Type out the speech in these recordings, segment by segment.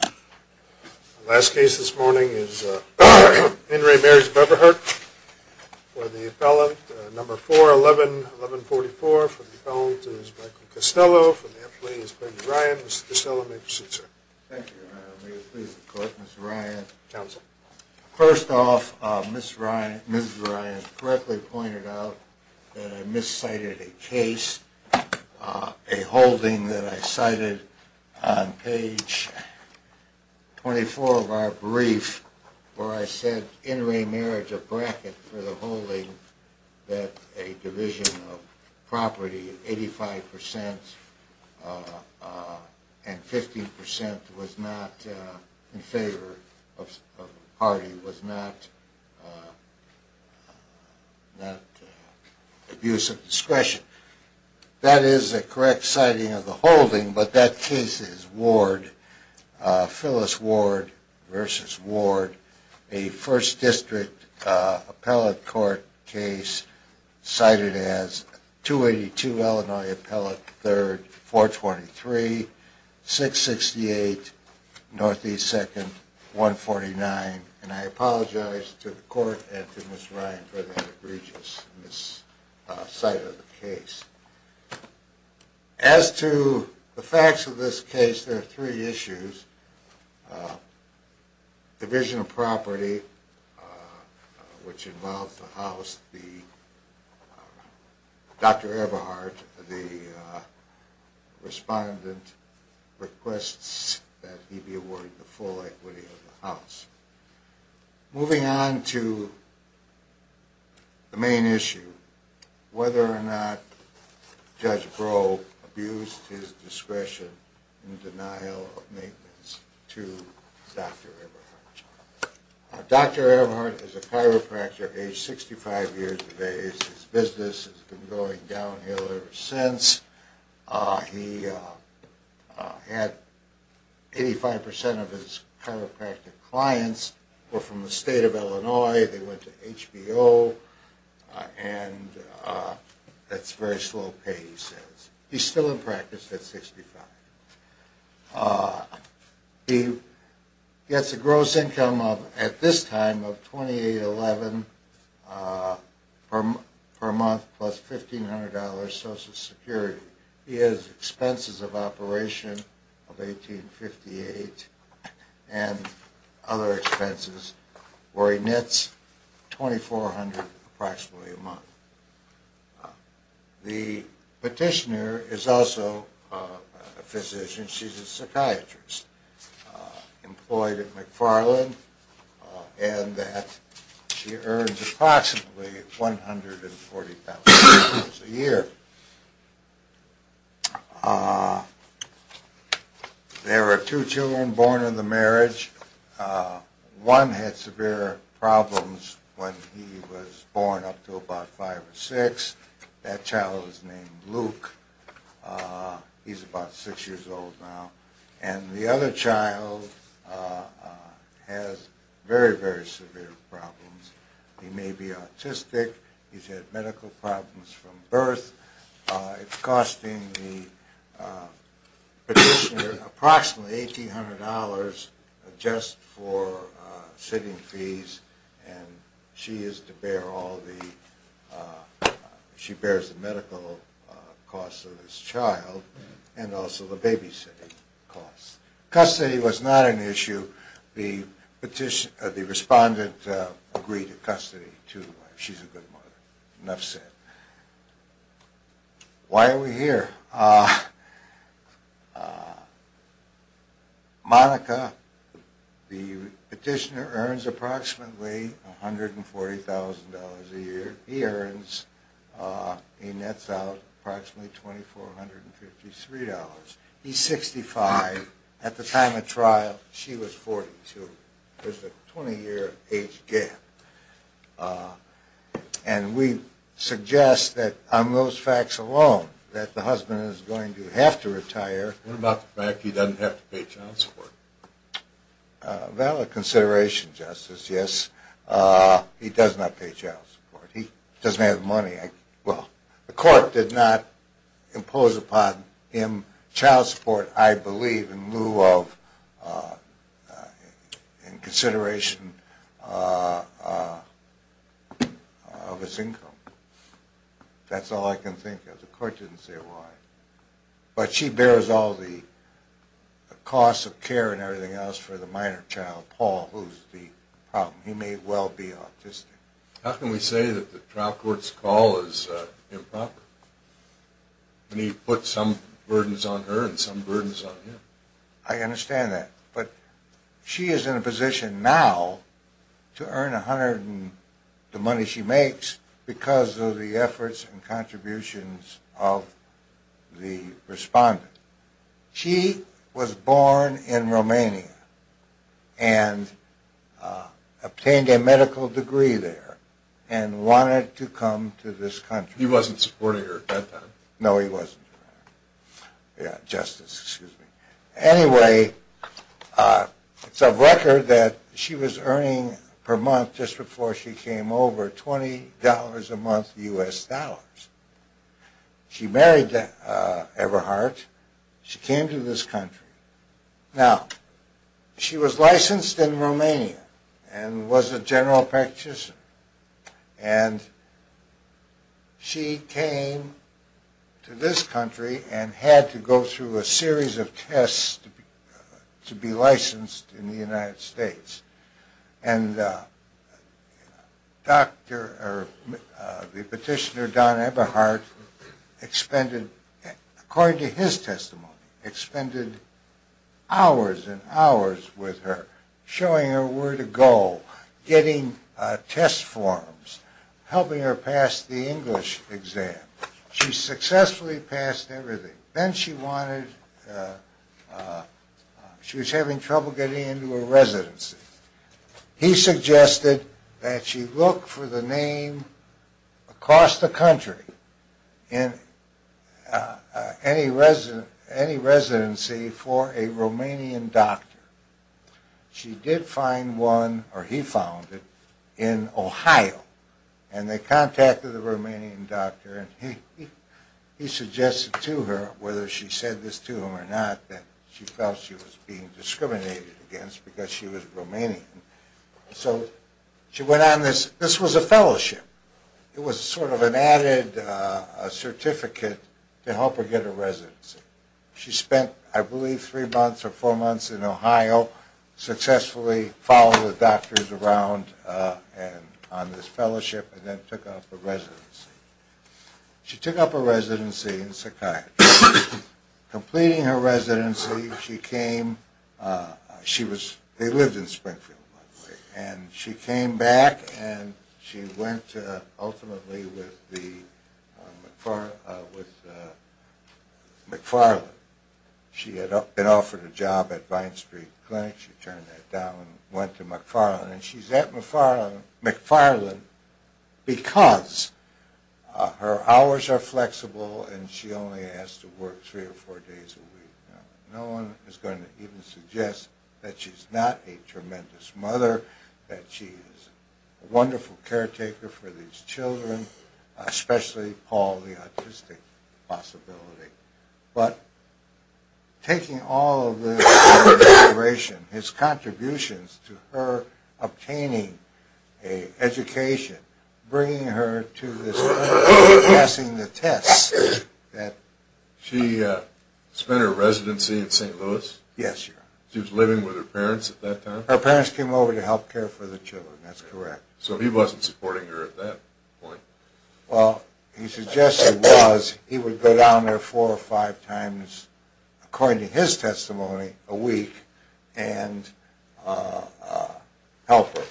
The last case this morning is In re. Marriage Eberhardt for the appellant number 411144. For the appellant is Michael Costello. For the appellant is Ben Ryan. Mr. Costello, may I proceed, sir? Thank you, Your Honor. May it please the Court. Mr. Ryan. Counsel. First off, Mrs. Ryan correctly pointed out that I miscited a case, a holding that I cited on page 24 of our brief where I said, In re. Marriage Eberhardt for the holding that a division of property of 85% and 15% was not in favor of Hardy, was not abuse of discretion. That is a correct citing of the holding, but that case is Ward, Phyllis Ward v. Ward, a 1st District appellate court case cited as 282 Illinois Appellate 3rd, 423, 668 Northeast 2nd, 149. And I apologize to the Court and to Mrs. Ryan for that egregious miscite of a case. As to the facts of this case, there are three issues. Division of property, which involved the house, Dr. Eberhardt, the respondent, requests that he be awarded the full equity of the house. Moving on to the main issue, whether or not Judge Brough abused his discretion in denial of maintenance to Dr. Eberhardt. Dr. Eberhardt is a chiropractor aged 65 years of age. His business has been going downhill ever since. He had 85% of his chiropractic clients were from the state of Illinois, they went to HBO, and that's very slow pay he says. He's still in practice at 65. He gets a gross income at this time of $28.11 per month plus $1500 social security. He has expenses of operation of $18.58 and other expenses where he nets $2400 approximately a month. The petitioner is also a physician, she's a psychiatrist employed at McFarland and she earns approximately $140,000 a year. There are two children born in the marriage. One had severe problems when he was born up to about 5 or 6. That child is named Luke, he's about 6 years old now. And the other child has very, very severe problems. He may be autistic, he's had medical problems from birth. It's costing the petitioner approximately $1800 just for sitting fees. And she is to bear all the medical costs of this child and also the babysitting costs. Custody was not an issue. The respondent agreed to custody too. She's a good mother. Why are we here? Monica, the petitioner earns approximately $140,000 a year. He earns, he nets out approximately $2453. He's 65, at the time of trial she was 42. There's a 20 year age gap. And we suggest that on those facts alone that the husband is going to have to retire. What about the fact that he doesn't have to pay child support? Valid consideration, Justice, yes. He does not pay child support. He doesn't have the money. The court did not impose upon him child support, I believe, in lieu of, in consideration of his income. That's all I can think of. The court didn't say why. But she bears all the costs of care and everything else for the minor child, Paul, who's the problem. He may well be autistic. How can we say that the trial court's call is improper? When he puts some burdens on her and some burdens on him. I understand that. But she is in a position now to earn $100,000, the money she makes, because of the efforts and contributions of the respondent. She was born in Romania and obtained a medical degree there and wanted to come to this country. He wasn't supporting her at that time? No, he wasn't. Justice, excuse me. Anyway, it's of record that she was earning per month, just before she came over, $20 a month U.S. dollars. She married Eberhardt. She came to this country. Now, she was licensed in Romania and was a general practitioner. And she came to this country and had to go through a series of tests to be licensed in the United States. And the petitioner, Don Eberhardt, according to his testimony, expended hours and hours with her, showing her where to go, getting test forms, helping her pass the English exam. She successfully passed everything. Then she wanted, she was having trouble getting into a residency. He suggested that she look for the name across the country in any residency for a Romanian doctor. She did find one, or he found it, in Ohio. And they contacted the Romanian doctor and he suggested to her, whether she said this to him or not, that she felt she was being discriminated against because she was Romanian. So she went on this. This was a fellowship. It was sort of an added certificate to help her get a residency. She spent, I believe, three months or four months in Ohio, successfully followed the doctors around on this fellowship, and then took up a residency. She took up a residency in psychiatry. Completing her residency, she came, she was, they lived in Springfield, by the way, and she came back and she went ultimately with McFarland. She had been offered a job at Vine Street Clinic. She turned that down and went to McFarland. And she's at McFarland because her hours are flexible and she only has to work three or four days a week. Now, no one is going to even suggest that she's not a tremendous mother, that she is a wonderful caretaker for these children, especially Paul, the autistic possibility. But taking all of this information, his contributions to her obtaining an education, bringing her to this clinic, passing the test. She spent her residency in St. Louis? Yes, Your Honor. She was living with her parents at that time? Her parents came over to help care for the children, that's correct. So he wasn't supporting her at that point? Well, he suggested he was. And he would go down there four or five times, according to his testimony, a week and help her.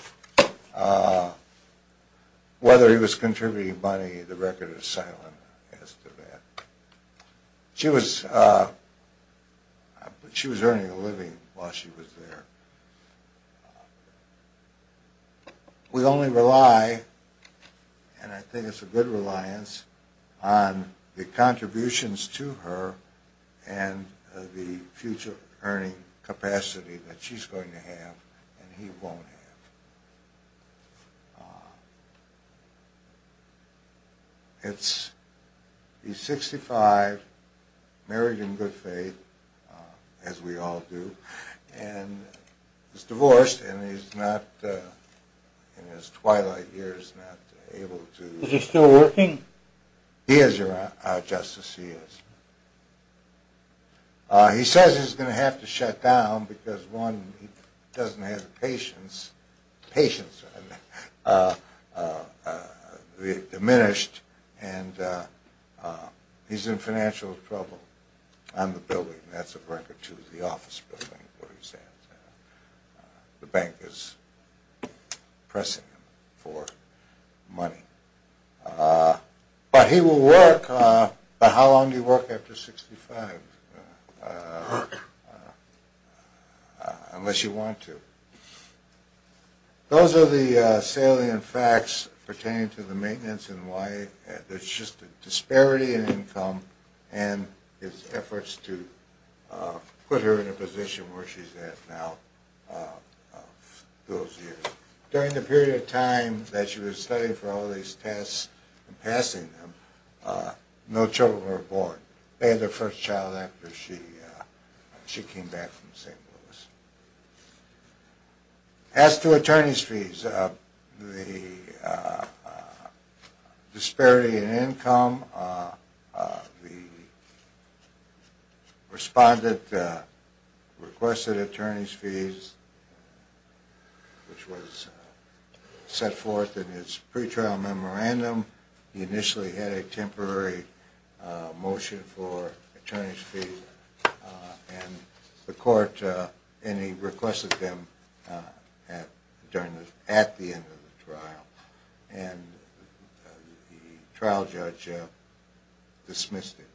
Whether he was contributing money, the record is silent as to that. She was earning a living while she was there. We only rely, and I think it's a good reliance, on the contributions to her and the future earning capacity that she's going to have and he won't have. It's, he's 65, married in good faith, as we all do, and he's divorced and he's not, in his twilight years, not able to... Is he still working? He is, Your Honor, Justice, he is. He says he's going to have to shut down because, one, he doesn't have the patience, patience diminished, and he's in financial trouble on the building. That's a record, too, the office building, what he says. The bank is pressing him for money. But he will work, but how long do you work after 65? Work. Unless you want to. Those are the salient facts pertaining to the maintenance and why there's just a disparity in income and his efforts to put her in a position where she's at now, those years. During the period of time that she was studying for all these tests and passing them, no children were born. They had their first child after she came back from St. Louis. As to attorney's fees, the disparity in income, the respondent requested attorney's fees, which was set forth in his pre-trial memorandum. He initially had a temporary motion for attorney's fees, and the court requested them at the end of the trial, and the trial judge dismissed it.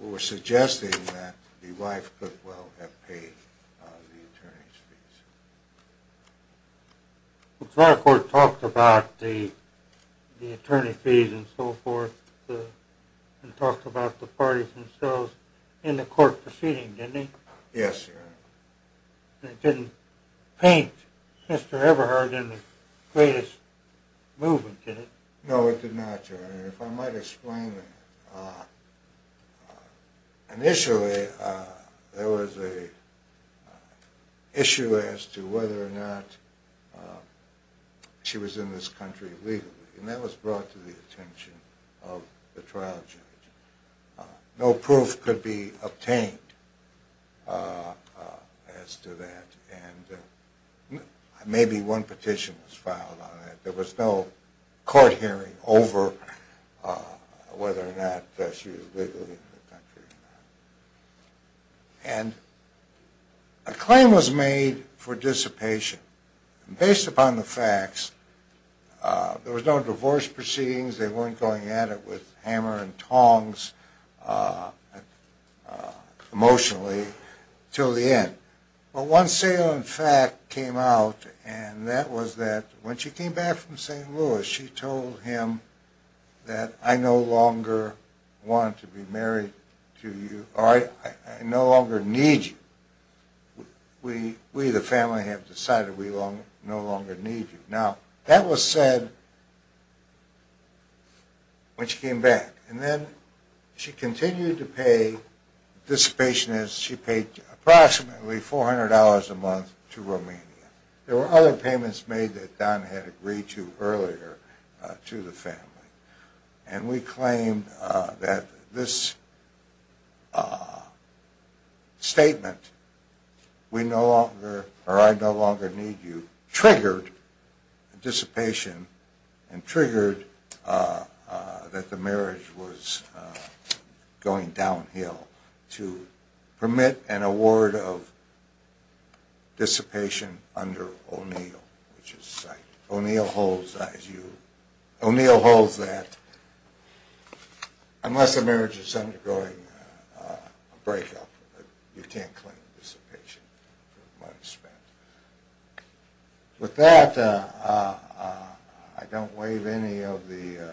We're suggesting that the wife could well have paid the attorney's fees. The trial court talked about the attorney's fees and so forth, and talked about the parties themselves in the court proceeding, didn't it? Yes, Your Honor. It didn't paint Mr. Everhart in the greatest movement, did it? No, it did not, Your Honor. If I might explain, initially there was an issue as to whether or not she was in this country legally, and that was brought to the attention of the trial judge. No proof could be obtained as to that, and maybe one petition was filed on it. There was no court hearing over whether or not she was legally in the country or not. And a claim was made for dissipation. Based upon the facts, there was no divorce proceedings, they weren't going at it with hammer and tongs emotionally until the end. Well, one salient fact came out, and that was that when she came back from St. Louis, she told him that, I no longer want to be married to you, or I no longer need you. We, the family, have decided we no longer need you. Now, that was said when she came back. And then she continued to pay dissipationists. She paid approximately $400 a month to Romania. There were other payments made that Don had agreed to earlier to the family. And we claimed that this statement, we no longer, or I no longer need you, triggered dissipation, and triggered that the marriage was going downhill, to permit an award of dissipation under O'Neill. O'Neill holds that, unless the marriage is undergoing a breakup, you can't claim dissipation for money spent. With that, I don't waive any of the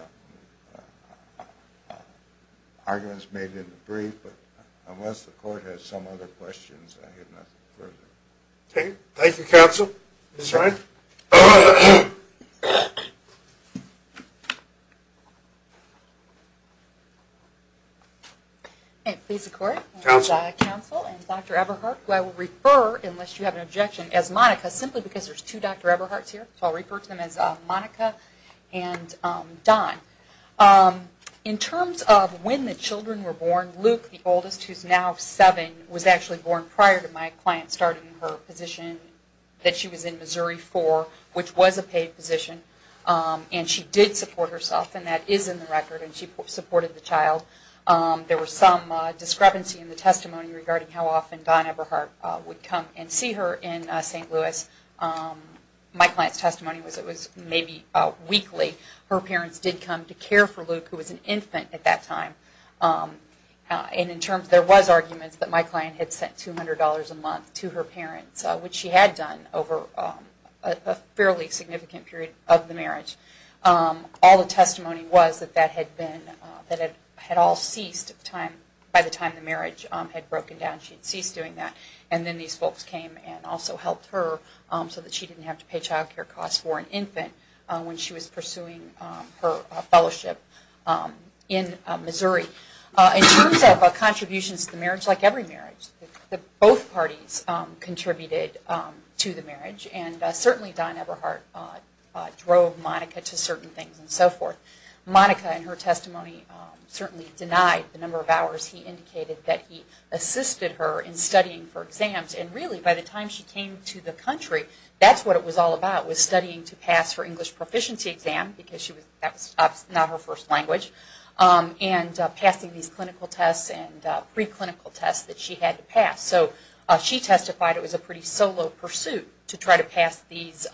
arguments made in the brief, but unless the court has some other questions, I have nothing further. Thank you, counsel. Ms. Ryan. Please, the court. Counsel. Counsel, and Dr. Eberhardt, who I will refer, unless you have an objection, as Monica, simply because there's two Dr. Eberhardts here, so I'll refer to them as Monica and Don. In terms of when the children were born, Luke, the oldest, who's now seven, was actually born prior to my client starting her position that she was in Missouri for, which was a paid position. And she did support herself, and that is in the record, and she supported the child. There was some discrepancy in the testimony regarding how often Don Eberhardt would come and see her in St. Louis. My client's testimony was it was maybe weekly. Her parents did come to care for Luke, who was an infant at that time. And in terms, there was arguments that my client had sent $200 a month to her parents, which she had done over a fairly significant period of the marriage. All the testimony was that that had all ceased by the time the marriage had broken down. She had ceased doing that. And then these folks came and also helped her so that she didn't have to pay child care costs for an infant when she was pursuing her fellowship in Missouri. In terms of contributions to the marriage, like every marriage, both parties contributed to the marriage. And certainly Don Eberhardt drove Monica to certain things and so forth. Monica, in her testimony, certainly denied the number of hours he indicated that he assisted her in studying for exams. And really, by the time she came to the country, that's what it was all about, was studying to pass her English proficiency exam, because that was not her first language, and passing these clinical tests and preclinical tests that she had to pass. So she testified it was a pretty solo pursuit to try to pass these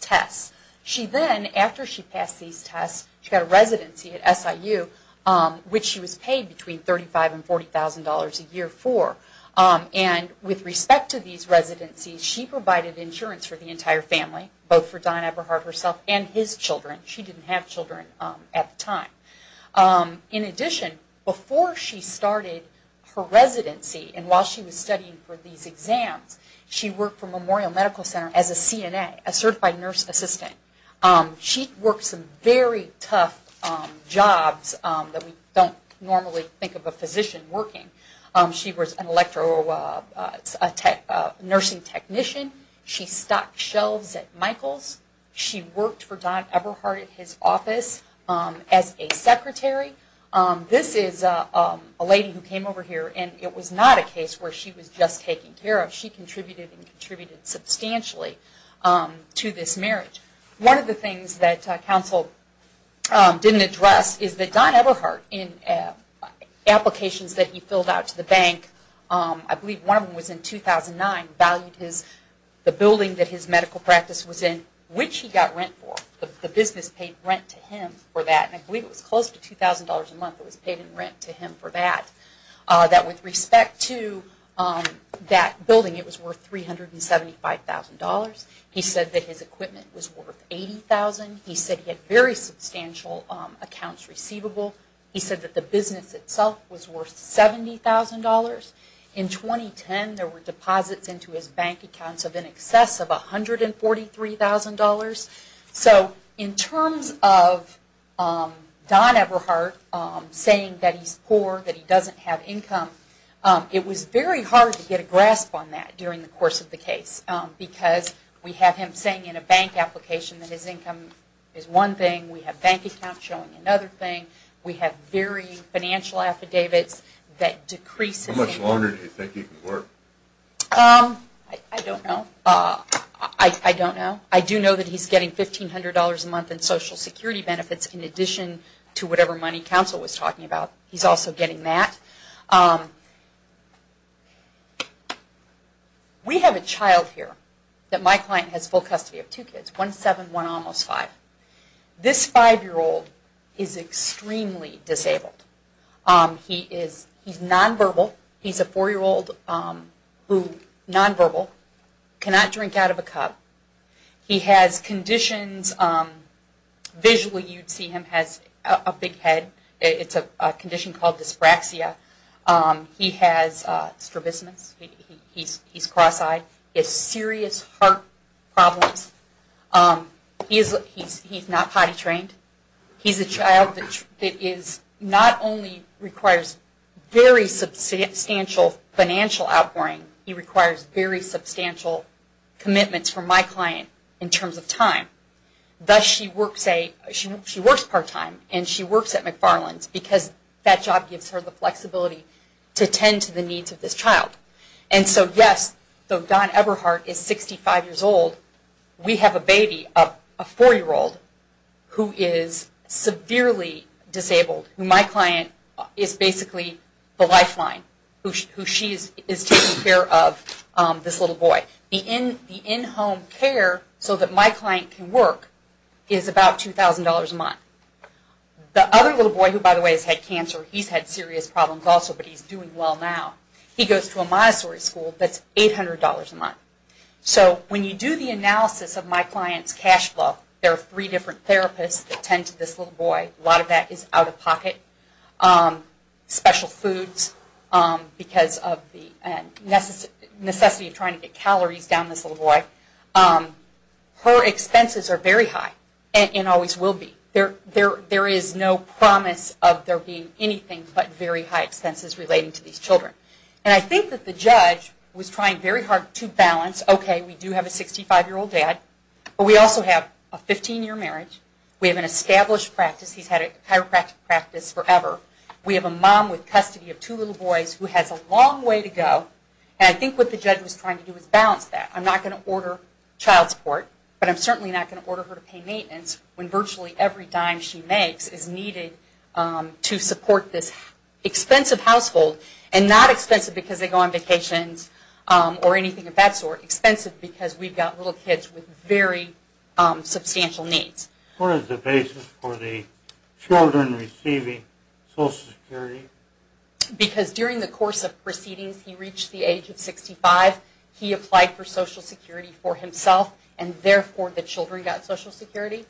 tests. She then, after she passed these tests, she got a residency at SIU, which she was paid between $35,000 and $40,000 a year for. And with respect to these residencies, she provided insurance for the entire family, both for Don Eberhardt herself and his children. She didn't have children at the time. In addition, before she started her residency and while she was studying for these exams, she worked for Memorial Medical Center as a CNA, a certified nurse assistant. She worked some very tough jobs that we don't normally think of a physician working. She was an electro-nursing technician. She stocked shelves at Michael's. She worked for Don Eberhardt at his office as a secretary. This is a lady who came over here, and it was not a case where she was just taken care of. She contributed and contributed substantially to this marriage. One of the things that counsel didn't address is that Don Eberhardt, in applications that he filled out to the bank, I believe one of them was in 2009, valued the building that his medical practice was in, which he got rent for. The business paid rent to him for that. And I believe it was close to $2,000 a month that was paid in rent to him for that. That with respect to that building, it was worth $375,000. He said that his equipment was worth $80,000. He said he had very substantial accounts receivable. He said that the business itself was worth $70,000. In 2010, there were deposits into his bank accounts of in excess of $143,000. So in terms of Don Eberhardt saying that he's poor, that he doesn't have income, it was very hard to get a grasp on that during the course of the case because we have him saying in a bank application that his income is one thing. We have bank accounts showing another thing. We have varying financial affidavits that decrease his income. How much longer do you think he can work? I don't know. I don't know. I do know that he's getting $1,500 a month in Social Security benefits in addition to whatever money counsel was talking about. He's also getting that. We have a child here that my client has full custody of. He has two kids, one 7 and one almost 5. This 5-year-old is extremely disabled. He's nonverbal. He's a 4-year-old who is nonverbal, cannot drink out of a cup. He has conditions. Visually you'd see him has a big head. It's a condition called dyspraxia. He has strabismus. He's cross-eyed. He has serious heart problems. He's not potty trained. He's a child that not only requires very substantial financial outpouring, he requires very substantial commitments from my client in terms of time. She works part-time, and she works at McFarland's because that job gives her the flexibility to tend to the needs of this child. And so, yes, though Don Eberhardt is 65 years old, we have a baby, a 4-year-old, who is severely disabled. My client is basically the lifeline who she is taking care of this little boy. The in-home care so that my client can work is about $2,000 a month. The other little boy who, by the way, has had cancer, he's had serious problems also, but he's doing well now. He goes to a Montessori school that's $800 a month. So when you do the analysis of my client's cash flow, there are three different therapists that tend to this little boy. A lot of that is out-of-pocket, special foods because of the necessity of trying to get calories down this little boy. Her expenses are very high and always will be. There is no promise of there being anything but very high expenses relating to these children. And I think that the judge was trying very hard to balance, okay, we do have a 65-year-old dad, but we also have a 15-year marriage. We have an established practice. He's had a chiropractic practice forever. We have a mom with custody of two little boys who has a long way to go. And I think what the judge was trying to do was balance that. I'm not going to order child support, but I'm certainly not going to order her to pay maintenance when virtually every dime she makes is needed to support this expensive household and not expensive because they go on vacations or anything of that sort, expensive because we've got little kids with very substantial needs. What is the basis for the children receiving Social Security? Because during the course of proceedings, he reached the age of 65. He applied for Social Security for himself, and therefore the children got Social Security.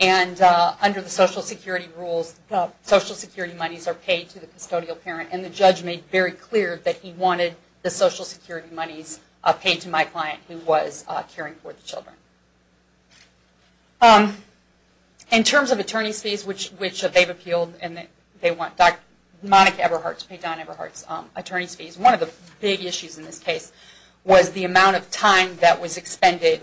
And under the Social Security rules, Social Security monies are paid to the custodial parent, and the judge made very clear that he wanted the Social Security monies paid to my client who was caring for the children. In terms of attorney's fees, which they've appealed, and they want Monica Eberhardt to pay Don Eberhardt's attorney's fees, one of the big issues in this case was the amount of time that was expended.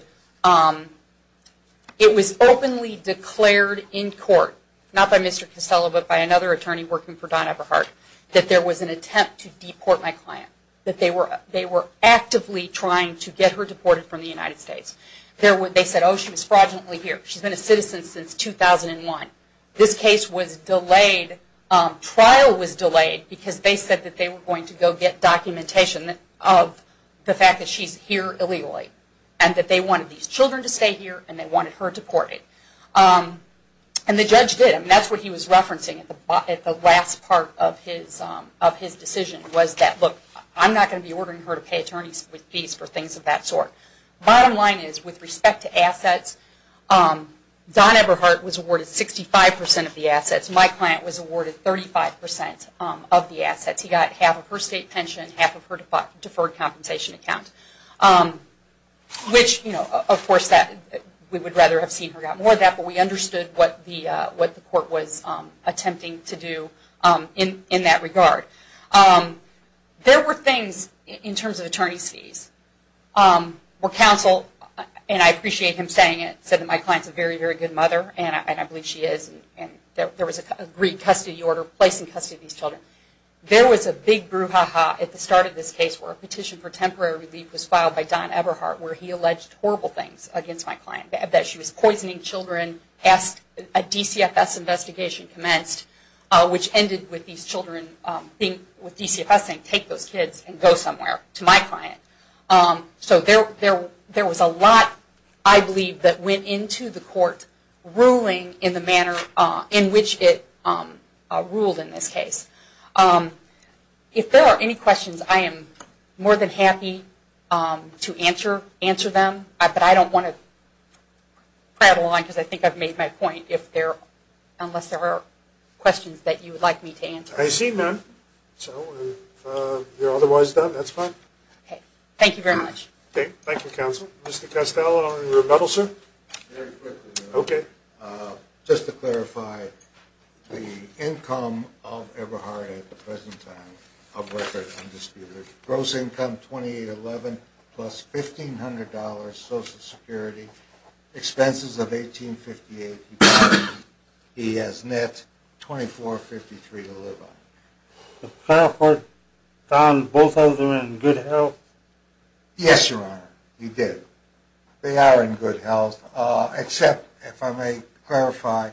It was openly declared in court, not by Mr. Costello, but by another attorney working for Don Eberhardt, that there was an attempt to deport my client, that they were actively trying to get her deported from the United States. They said, oh, she was fraudulently here. She's been a citizen since 2001. This case was delayed, trial was delayed, because they said that they were going to go get documentation of the fact that she's here illegally, and that they wanted these children to stay here, and they wanted her deported. And the judge did, and that's what he was referencing at the last part of his decision, was that, look, I'm not going to be ordering her to pay attorneys with fees for things of that sort. Bottom line is, with respect to assets, Don Eberhardt was awarded 65% of the assets. My client was awarded 35% of the assets. He got half of her state pension, half of her deferred compensation account, which, of course, we would rather have seen her got more of that, but we understood what the court was attempting to do in that regard. There were things, in terms of attorney's fees, where counsel, and I appreciate him saying it, said that my client's a very, very good mother, and I believe she is, and there was an agreed custody order placed in custody of these children. There was a big brouhaha at the start of this case, where a petition for temporary relief was filed by Don Eberhardt, where he alleged horrible things against my client, that she was poisoning children, a DCFS investigation commenced, which ended with these children, with DCFS saying, take those kids and go somewhere, to my client. So there was a lot, I believe, that went into the court, ruling in the manner in which it ruled in this case. If there are any questions, I am more than happy to answer them, but I don't want to prattle on, because I think I've made my point, unless there are questions that you would like me to answer. I see none. So, if you're otherwise done, that's fine. Okay. Thank you very much. Okay. Thank you, counsel. Mr. Castello on your medal, sir? Very quickly, though. Okay. Just to clarify, the income of Eberhardt at the present time of record, gross income $2,811, plus $1,500 Social Security, expenses of $1,858, he has net $2,453 to live on. To clarify, Don, both of them in good health? Yes, Your Honor, you did. They are in good health, except, if I may clarify,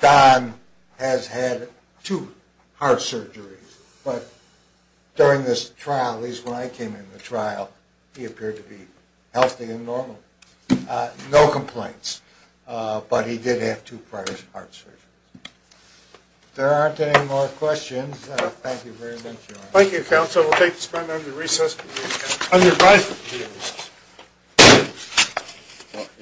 Don has had two heart surgeries, but during this trial, at least when I came into the trial, he appeared to be healthy and normal. No complaints. But he did have two prior heart surgeries. If there aren't any more questions, thank you very much, Your Honor. Thank you, counsel. We'll take this matter under recess. On your right.